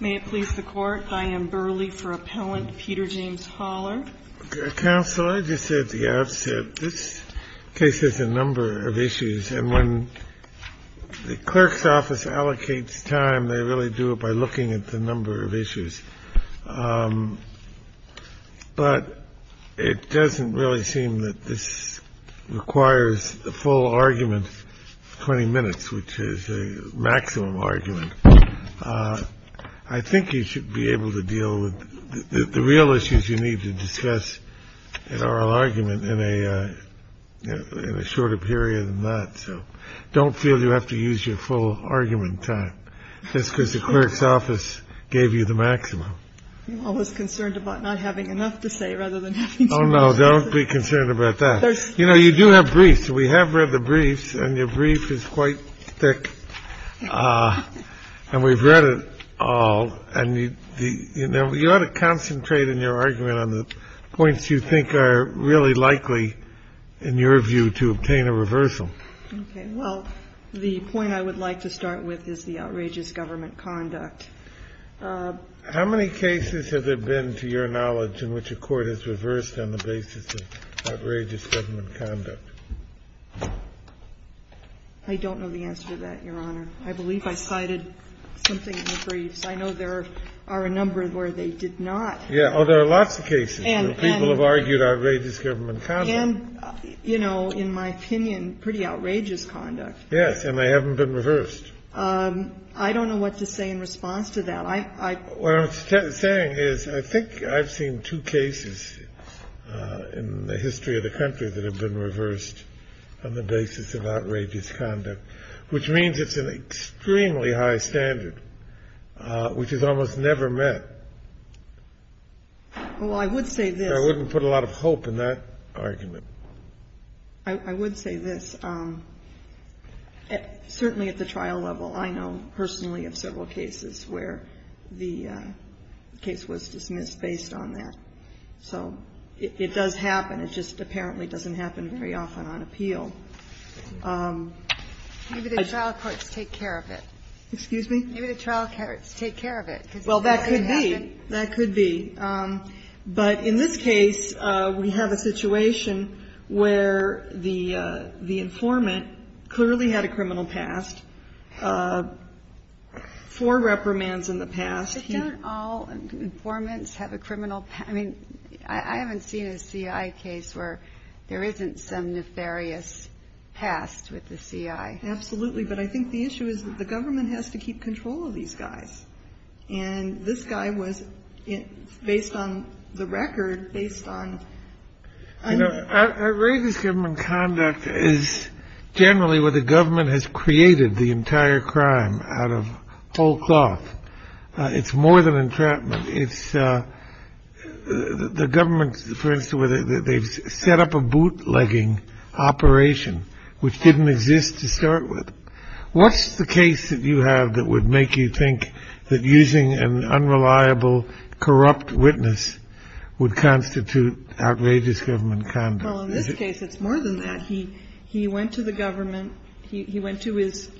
May it please the Court, I am Burley for Appellant Peter James Holler. Counsel, I just said at the outset this case has a number of issues, and when the clerk's office allocates time, they really do it by looking at the number of issues. But it doesn't really seem that this requires a full argument, 20 minutes, which is a maximum argument. I think you should be able to deal with the real issues you need to discuss an oral argument in a shorter period than that. So don't feel you have to use your full argument time just because the clerk's office gave you the maximum. I was concerned about not having enough to say rather than. No, don't be concerned about that. You know, you do have briefs. We have read the briefs and your brief is quite thick and we've read it all. And, you know, you ought to concentrate in your argument on the points you think are really likely, in your view, to obtain a reversal. Okay. Well, the point I would like to start with is the outrageous government conduct. How many cases has there been, to your knowledge, in which a court has reversed on the basis of outrageous government conduct? I don't know the answer to that, Your Honor. I believe I cited something in the briefs. I know there are a number where they did not. Yeah. Oh, there are lots of cases where people have argued outrageous government conduct. And, you know, in my opinion, pretty outrageous conduct. Yes. And they haven't been reversed. I don't know what to say in response to that. What I'm saying is I think I've seen two cases in the history of the country that have been reversed on the basis of outrageous conduct, which means it's an extremely high standard, which is almost never met. Well, I would say this. I wouldn't put a lot of hope in that argument. I would say this. Certainly at the trial level, I know personally of several cases where the case was dismissed based on that. So it does happen. It just apparently doesn't happen very often on appeal. Maybe the trial courts take care of it. Excuse me? Maybe the trial courts take care of it. Well, that could be. That could be. But in this case, we have a situation where the informant clearly had a criminal past, four reprimands in the past. But don't all informants have a criminal past? I mean, I haven't seen a C.I. case where there isn't some nefarious past with the C.I. Absolutely. But I think the issue is that the government has to keep control of these guys. And this guy was based on the record, based on. Outrageous government conduct is generally where the government has created the entire crime out of whole cloth. It's more than entrapment. It's the government, for instance, where they've set up a bootlegging operation which didn't exist to start with. What's the case that you have that would make you think that using an unreliable, corrupt witness would constitute outrageous government conduct? In this case, it's more than that. I mean, he went to the government. He went to his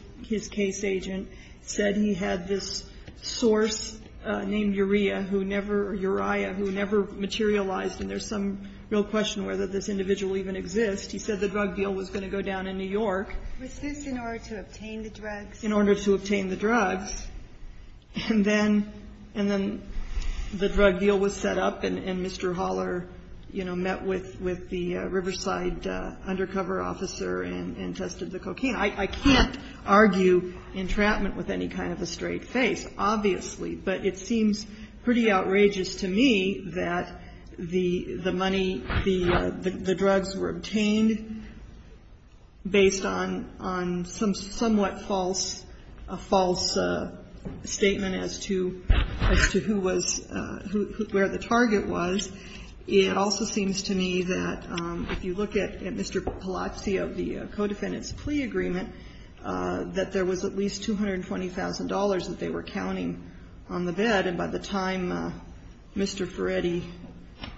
case agent, said he had this source named Uriah who never or Uriah who never materialized. And there's some real question whether this individual even exists. He said the drug deal was going to go down in New York. Was this in order to obtain the drugs? In order to obtain the drugs. And then the drug deal was set up and Mr. Haller, you know, met with the Riverside undercover officer and tested the cocaine. I can't argue entrapment with any kind of a straight face, obviously. But it seems pretty outrageous to me that the money, the drugs were obtained based on some somewhat false statement as to who was, where the target was. It also seems to me that if you look at Mr. Palazzi of the co-defendant's plea agreement, that there was at least $220,000 that they were counting on the bed. And by the time Mr. Ferretti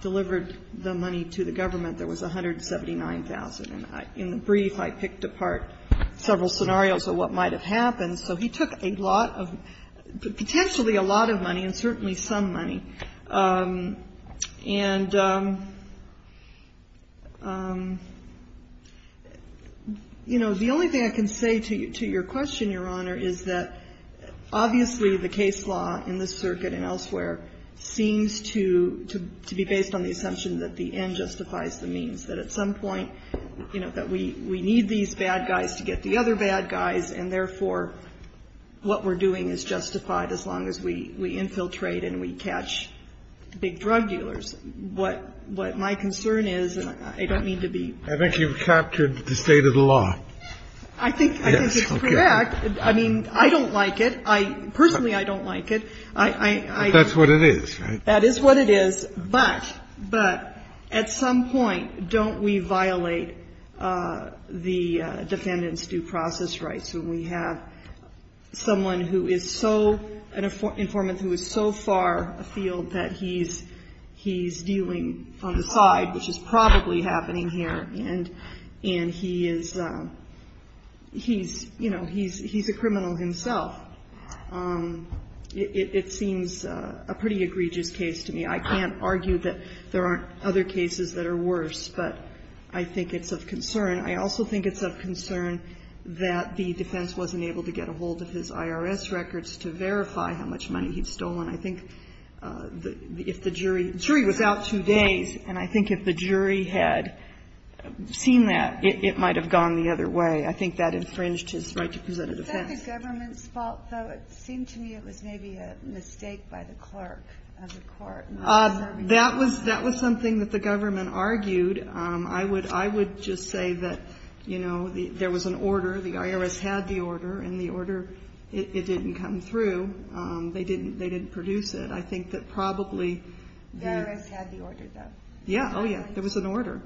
delivered the money to the government, there was $179,000. And in the brief, I picked apart several scenarios of what might have happened. So he took a lot of, potentially a lot of money and certainly some money. And, you know, the only thing I can say to your question, Your Honor, is that obviously the case law in this circuit and elsewhere seems to be based on the assumption that the end justifies the means, that at some point, you know, that we need these bad guys to get the other bad guys and, therefore, what we're doing is justified as long as we infiltrate and we catch big drug dealers. What my concern is, and I don't mean to be. I think you've captured the state of the law. I think it's correct. I mean, I don't like it. Personally, I don't like it. But that's what it is, right? That is what it is. But at some point, don't we violate the defendant's due process rights when we have someone who is so, an informant who is so far afield that he's dealing on the side, which is probably happening here. And he is, you know, he's a criminal himself. It seems a pretty egregious case to me. I can't argue that there aren't other cases that are worse. But I think it's of concern. I also think it's of concern that the defense wasn't able to get a hold of his IRS records to verify how much money he'd stolen. I think if the jury was out two days, and I think if the jury had seen that, it might have gone the other way. I think that infringed his right to present a defense. Was that the government's fault, though? It seemed to me it was maybe a mistake by the clerk of the court. That was something that the government argued. I would just say that, you know, there was an order. The IRS had the order, and the order, it didn't come through. They didn't produce it. I think that probably the IRS had the order, though. Yeah, oh, yeah. There was an order.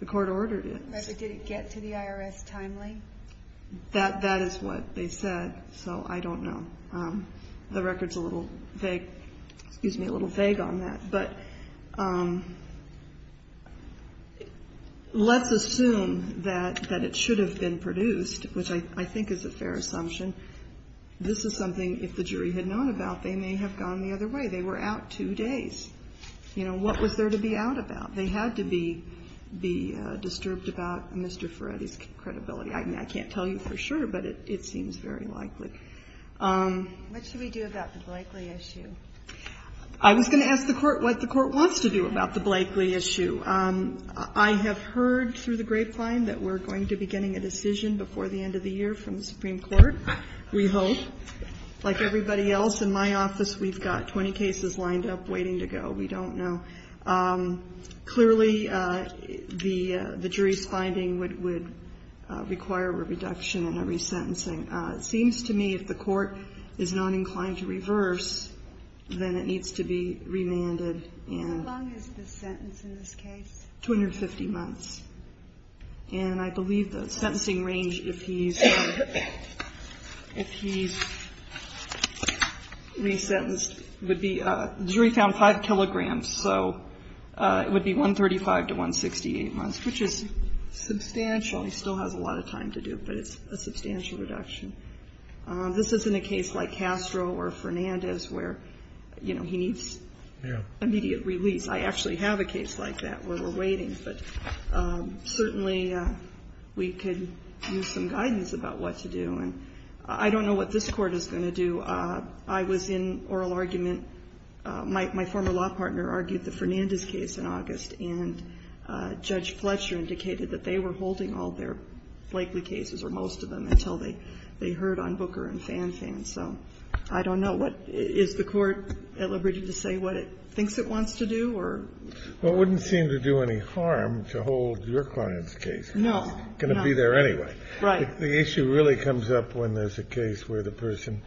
The court ordered it. But did it get to the IRS timely? That is what they said, so I don't know. The record's a little vague, excuse me, a little vague on that. But let's assume that it should have been produced, which I think is a fair assumption. This is something, if the jury had known about, they may have gone the other way. They were out two days. You know, what was there to be out about? They had to be disturbed about Mr. Ferretti's credibility. I can't tell you for sure, but it seems very likely. What should we do about the Blakeley issue? I was going to ask the Court what the Court wants to do about the Blakeley issue. I have heard through the grapevine that we're going to be getting a decision before the end of the year from the Supreme Court, we hope. Like everybody else in my office, we've got 20 cases lined up waiting to go. We don't know. Clearly, the jury's finding would require a reduction and a resentencing. It seems to me if the Court is not inclined to reverse, then it needs to be remanded. How long is the sentence in this case? 250 months. And I believe the sentencing range, if he's resentenced, would be the jury found 5 kilograms. So it would be 135 to 168 months, which is substantial. He still has a lot of time to do it, but it's a substantial reduction. This isn't a case like Castro or Fernandez where, you know, he needs immediate release. I actually have a case like that where we're waiting, but certainly we could use some guidance about what to do. And I don't know what this Court is going to do. I was in oral argument. My former law partner argued the Fernandez case in August. And Judge Fletcher indicated that they were holding all their likely cases or most of them until they heard on Booker and Fanfan. So I don't know. Is the Court at liberty to say what it thinks it wants to do or? Well, it wouldn't seem to do any harm to hold your client's case. No. It's going to be there anyway. Right. The issue really comes up when there's a case where the person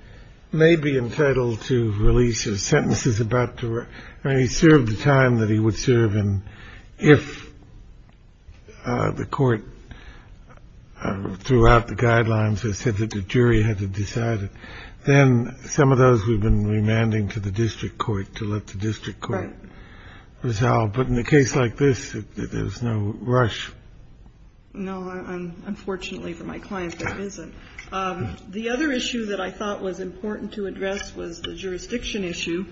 may be entitled to release his sentences about. He served the time that he would serve. And if the court throughout the guidelines has said that the jury had to decide, then some of those we've been remanding to the district court to let the district court resolve. But in a case like this, there's no rush. No, unfortunately for my client, there isn't. The other issue that I thought was important to address was the jurisdiction issue.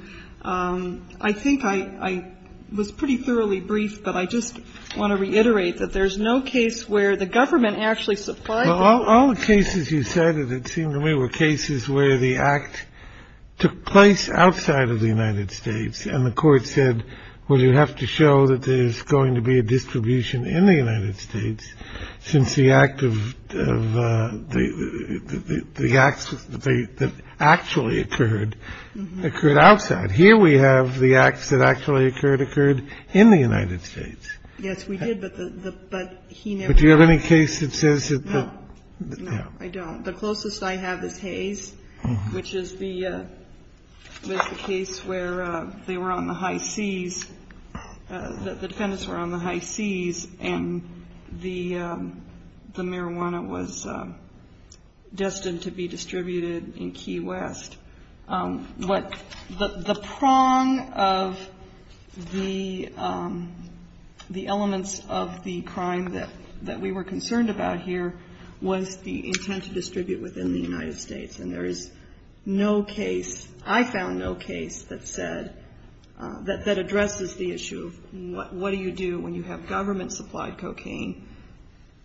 I think I was pretty thoroughly brief, but I just want to reiterate that there's no case where the government actually supplied. All the cases you said that it seemed to me were cases where the act took place outside of the United States. And the court said, well, you have to show that there is going to be a distribution in the United States since the act of the acts that actually occurred, occurred outside. Here we have the acts that actually occurred, occurred in the United States. Yes, we did. But the. But do you have any case that says that? No, I don't. The closest I have is Hayes, which is the case where they were on the high seas. The defendants were on the high seas and the marijuana was destined to be distributed in Key West. But the prong of the elements of the crime that we were concerned about here was the intent to distribute within the United States. And there is no case, I found no case that said, that addresses the issue of what do you do when you have government-supplied cocaine?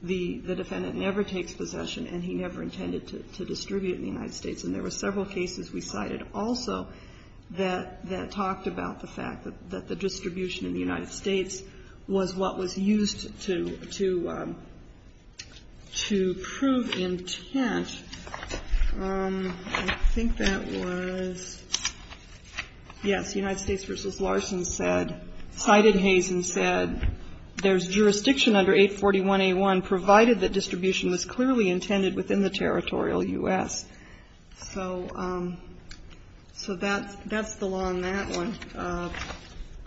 The defendant never takes possession and he never intended to distribute in the United States. And there were several cases we cited also that talked about the fact that the distribution in the United States was what was used to prove intent. I think that was, yes, United States v. Larson said, cited Hayes and said, there's jurisdiction under 841A1 provided that distribution was clearly intended within the territorial U.S. So that's the law on that one.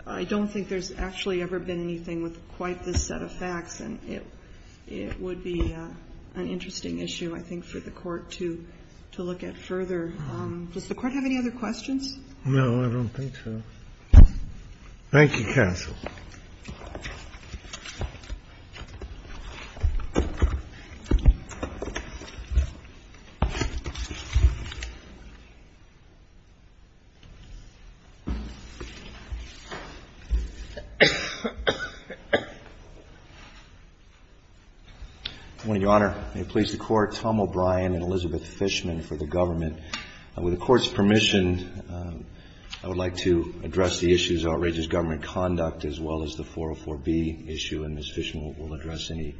I don't think there's actually ever been anything with quite this set of facts. And it would be an interesting issue, I think, for the Court to look at further. Does the Court have any other questions? Thank you, counsel. Good morning, Your Honor. May it please the Court, Tom O'Brien and Elizabeth Fishman for the government. With the Court's permission, I would like to address the issues of outrageous government conduct as well as the 404B issue, and Ms. Fishman will address any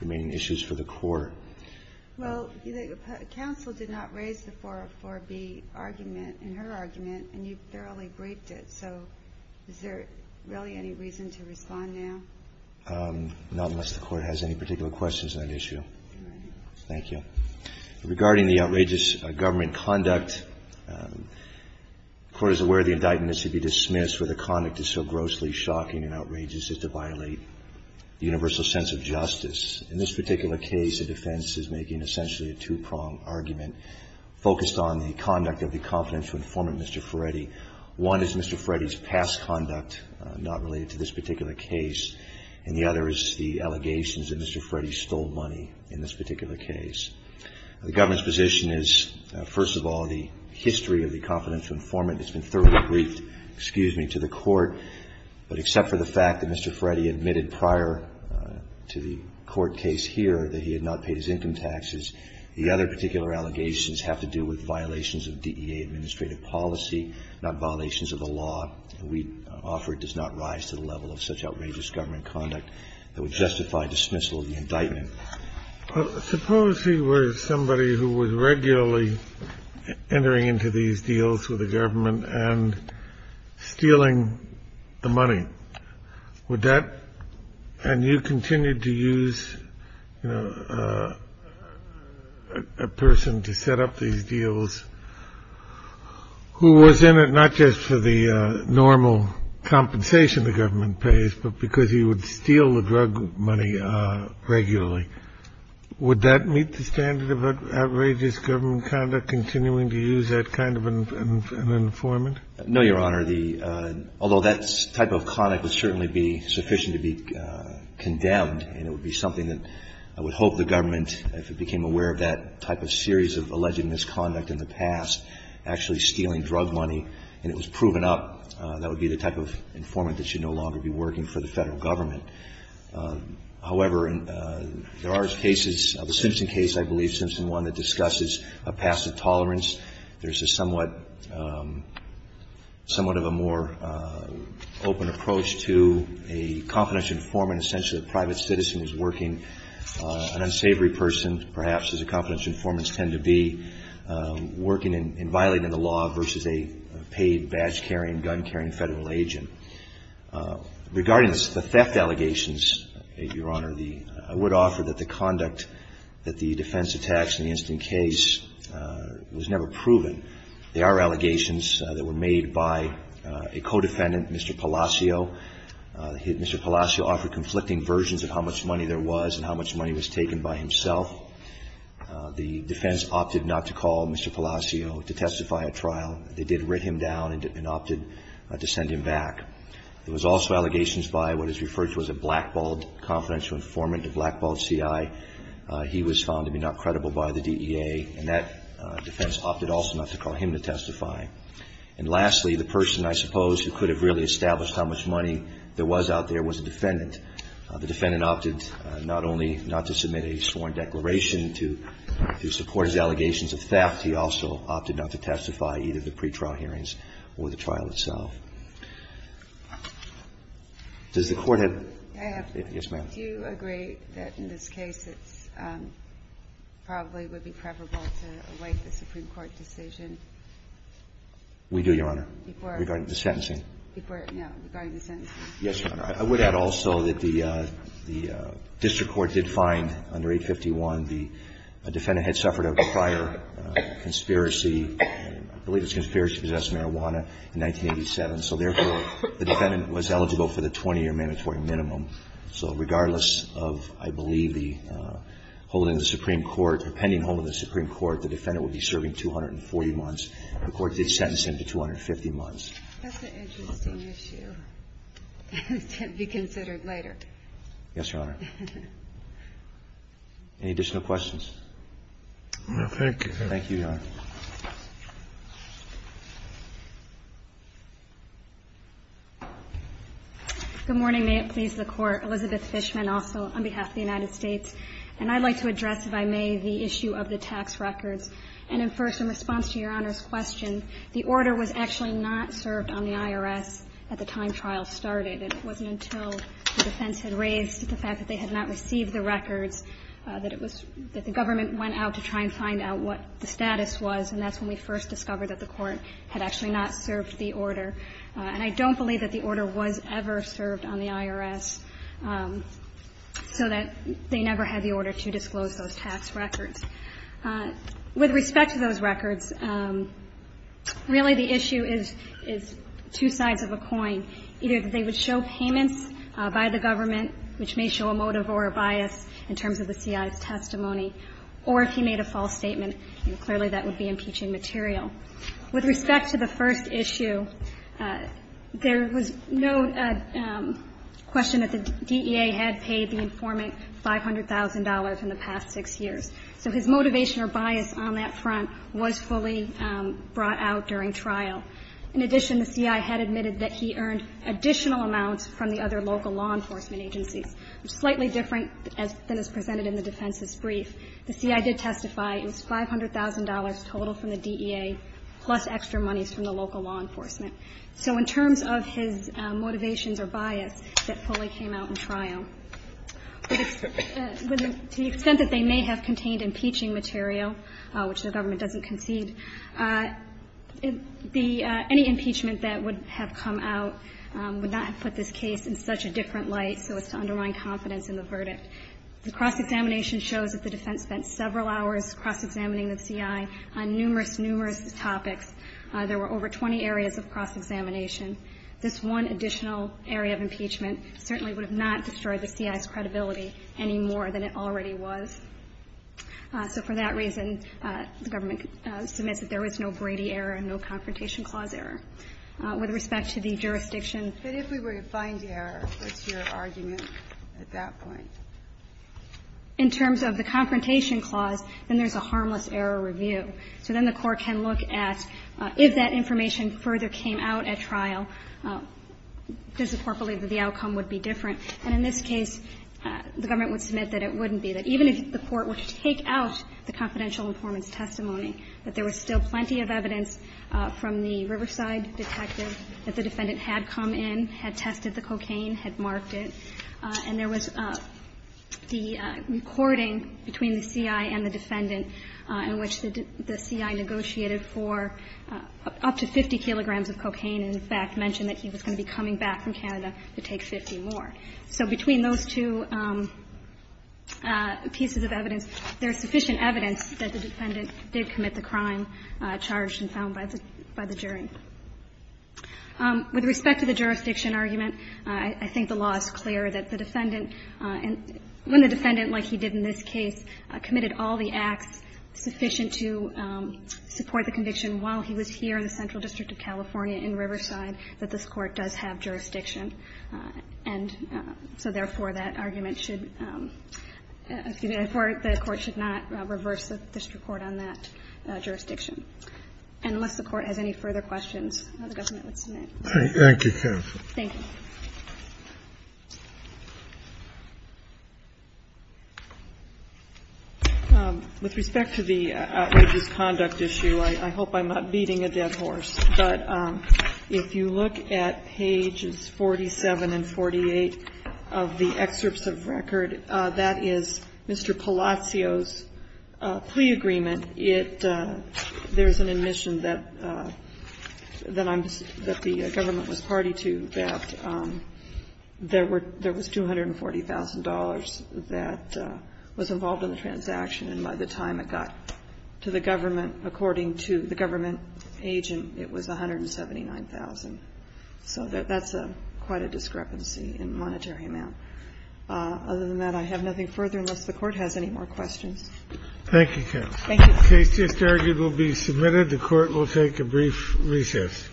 remaining issues for the Court. Well, counsel did not raise the 404B argument in her argument, and you fairly briefed it. So is there really any reason to respond now? Not unless the Court has any particular questions on that issue. Thank you. Thank you, Your Honor. Regarding the outrageous government conduct, the Court is aware the indictment is to be dismissed where the conduct is so grossly shocking and outrageous as to violate the universal sense of justice. In this particular case, the defense is making essentially a two-prong argument focused on the conduct of the confidential informant, Mr. Ferretti. One is Mr. Ferretti's past conduct not related to this particular case, and the other is the allegations that Mr. Ferretti stole money in this particular case. The government's position is, first of all, the history of the confidential informant has been thoroughly briefed, excuse me, to the Court. But except for the fact that Mr. Ferretti admitted prior to the Court case here that he had not paid his income taxes, the other particular allegations have to do with violations of DEA administrative policy, not violations of the law. And we offer it does not rise to the level of such outrageous government conduct that would justify dismissal of the indictment. Suppose he was somebody who was regularly entering into these deals with the government and stealing the money. Would that – and you continued to use, you know, a person to set up these deals who was in it not just for the normal compensation the government pays, but because he would steal the drug money regularly. Would that meet the standard of outrageous government conduct, continuing to use that kind of an informant? No, Your Honor. Although that type of conduct would certainly be sufficient to be condemned, and it would be something that I would hope the government, if it became aware of that type of series of alleged misconduct in the past, actually stealing drug money and it was proven up, that would be the type of informant that should no longer be working for the Federal Government. However, there are cases, the Simpson case, I believe, Simpson 1, that discusses a passive tolerance. There's a somewhat of a more open approach to a confidential informant, essentially an unsavory person, perhaps, as confidential informants tend to be, working and violating the law versus a paid badge-carrying, gun-carrying Federal agent. Regarding the theft allegations, Your Honor, I would offer that the conduct that the defense attacks in the instant case was never proven. There are allegations that were made by a co-defendant, Mr. Palacio. Mr. Palacio offered conflicting versions of how much money there was and how much money was taken by himself. The defense opted not to call Mr. Palacio to testify at trial. They did write him down and opted to send him back. There was also allegations by what is referred to as a blackballed confidential informant, a blackballed CI. He was found to be not credible by the DEA, and that defense opted also not to call him to testify. And lastly, the person, I suppose, who could have really established how much money there was out there was a defendant. The defendant opted not only not to submit a sworn declaration to support his allegations of theft, he also opted not to testify either at the pretrial hearings or at the trial itself. Does the Court have to? Yes, ma'am. Do you agree that in this case it probably would be preferable to await the Supreme Court decision? We do, Your Honor, regarding the sentencing. Before, yeah, regarding the sentencing. Yes, Your Honor. I would add also that the district court did find under 851 the defendant had suffered a prior conspiracy, I believe it was a conspiracy to possess marijuana, in 1987. So therefore, the defendant was eligible for the 20-year mandatory minimum. So regardless of, I believe, the holding of the Supreme Court or pending holding of the Supreme Court, the defendant would be serving 240 months. The Court did sentence him to 250 months. That's an interesting issue to be considered later. Yes, Your Honor. Any additional questions? No, thank you. Thank you, Your Honor. Good morning. May it please the Court. Elizabeth Fishman also on behalf of the United States. And I'd like to address, if I may, the issue of the tax records. And in first, in response to Your Honor's question, the order was actually not served on the IRS at the time trial started. And it wasn't until the defense had raised the fact that they had not received the records that it was the government went out to try and find out what the status was, and that's when we first discovered that the Court had actually not served the order. And I don't believe that the order was ever served on the IRS, so that they never had the order to disclose those tax records. With respect to those records, really the issue is two sides of a coin. Either they would show payments by the government, which may show a motive or a bias in terms of the CI's testimony, or if he made a false statement, clearly that would be impeaching material. With respect to the first issue, there was no question that the DEA had paid the CI $500,000 in the past six years. So his motivation or bias on that front was fully brought out during trial. In addition, the CI had admitted that he earned additional amounts from the other local law enforcement agencies, which is slightly different than is presented in the defense's brief. The CI did testify. It was $500,000 total from the DEA, plus extra monies from the local law enforcement. So in terms of his motivations or bias that fully came out in trial. To the extent that they may have contained impeaching material, which the government doesn't concede, any impeachment that would have come out would not have put this case in such a different light so as to undermine confidence in the verdict. The cross-examination shows that the defense spent several hours cross-examining the CI on numerous, numerous topics. There were over 20 areas of cross-examination. This one additional area of impeachment certainly would have not destroyed the CI's credibility any more than it already was. So for that reason, the government submits that there was no Brady error and no confrontation clause error. With respect to the jurisdiction. But if we were to find the error, what's your argument at that point? In terms of the confrontation clause, then there's a harmless error review. So then the court can look at if that information further came out at trial, does the court believe that the outcome would be different? And in this case, the government would submit that it wouldn't be. That even if the court were to take out the confidential informant's testimony, that there was still plenty of evidence from the Riverside detective that the defendant had come in, had tested the cocaine, had marked it, and there was the recording between the CI and the defendant in which the CI negotiated for up to 50 kilograms of cocaine and, in fact, mentioned that he was going to be coming back from Canada to take 50 more. So between those two pieces of evidence, there's sufficient evidence that the defendant did commit the crime charged and found by the jury. With respect to the jurisdiction argument, I think the law is clear that the defendant and when the defendant, like he did in this case, committed all the acts sufficient to support the conviction while he was here in the Central District of California in Riverside, that this Court does have jurisdiction. And so, therefore, that argument should, excuse me, the Court should not reverse the district court on that jurisdiction. And unless the Court has any further questions, the government would submit. Thank you, counsel. Thank you. With respect to the outrageous conduct issue, I hope I'm not beating a dead horse. But if you look at pages 47 and 48 of the excerpts of record, that is Mr. Palacios' plea agreement. There is an admission that the government was party to that there was $240,000 that was involved in the transaction. And by the time it got to the government, according to the government agent, it was $179,000. So that's quite a discrepancy in monetary amount. Other than that, I have nothing further, unless the Court has any more questions. Thank you, counsel. Thank you. The case just argued will be submitted. The Court will take a brief recess. All rise.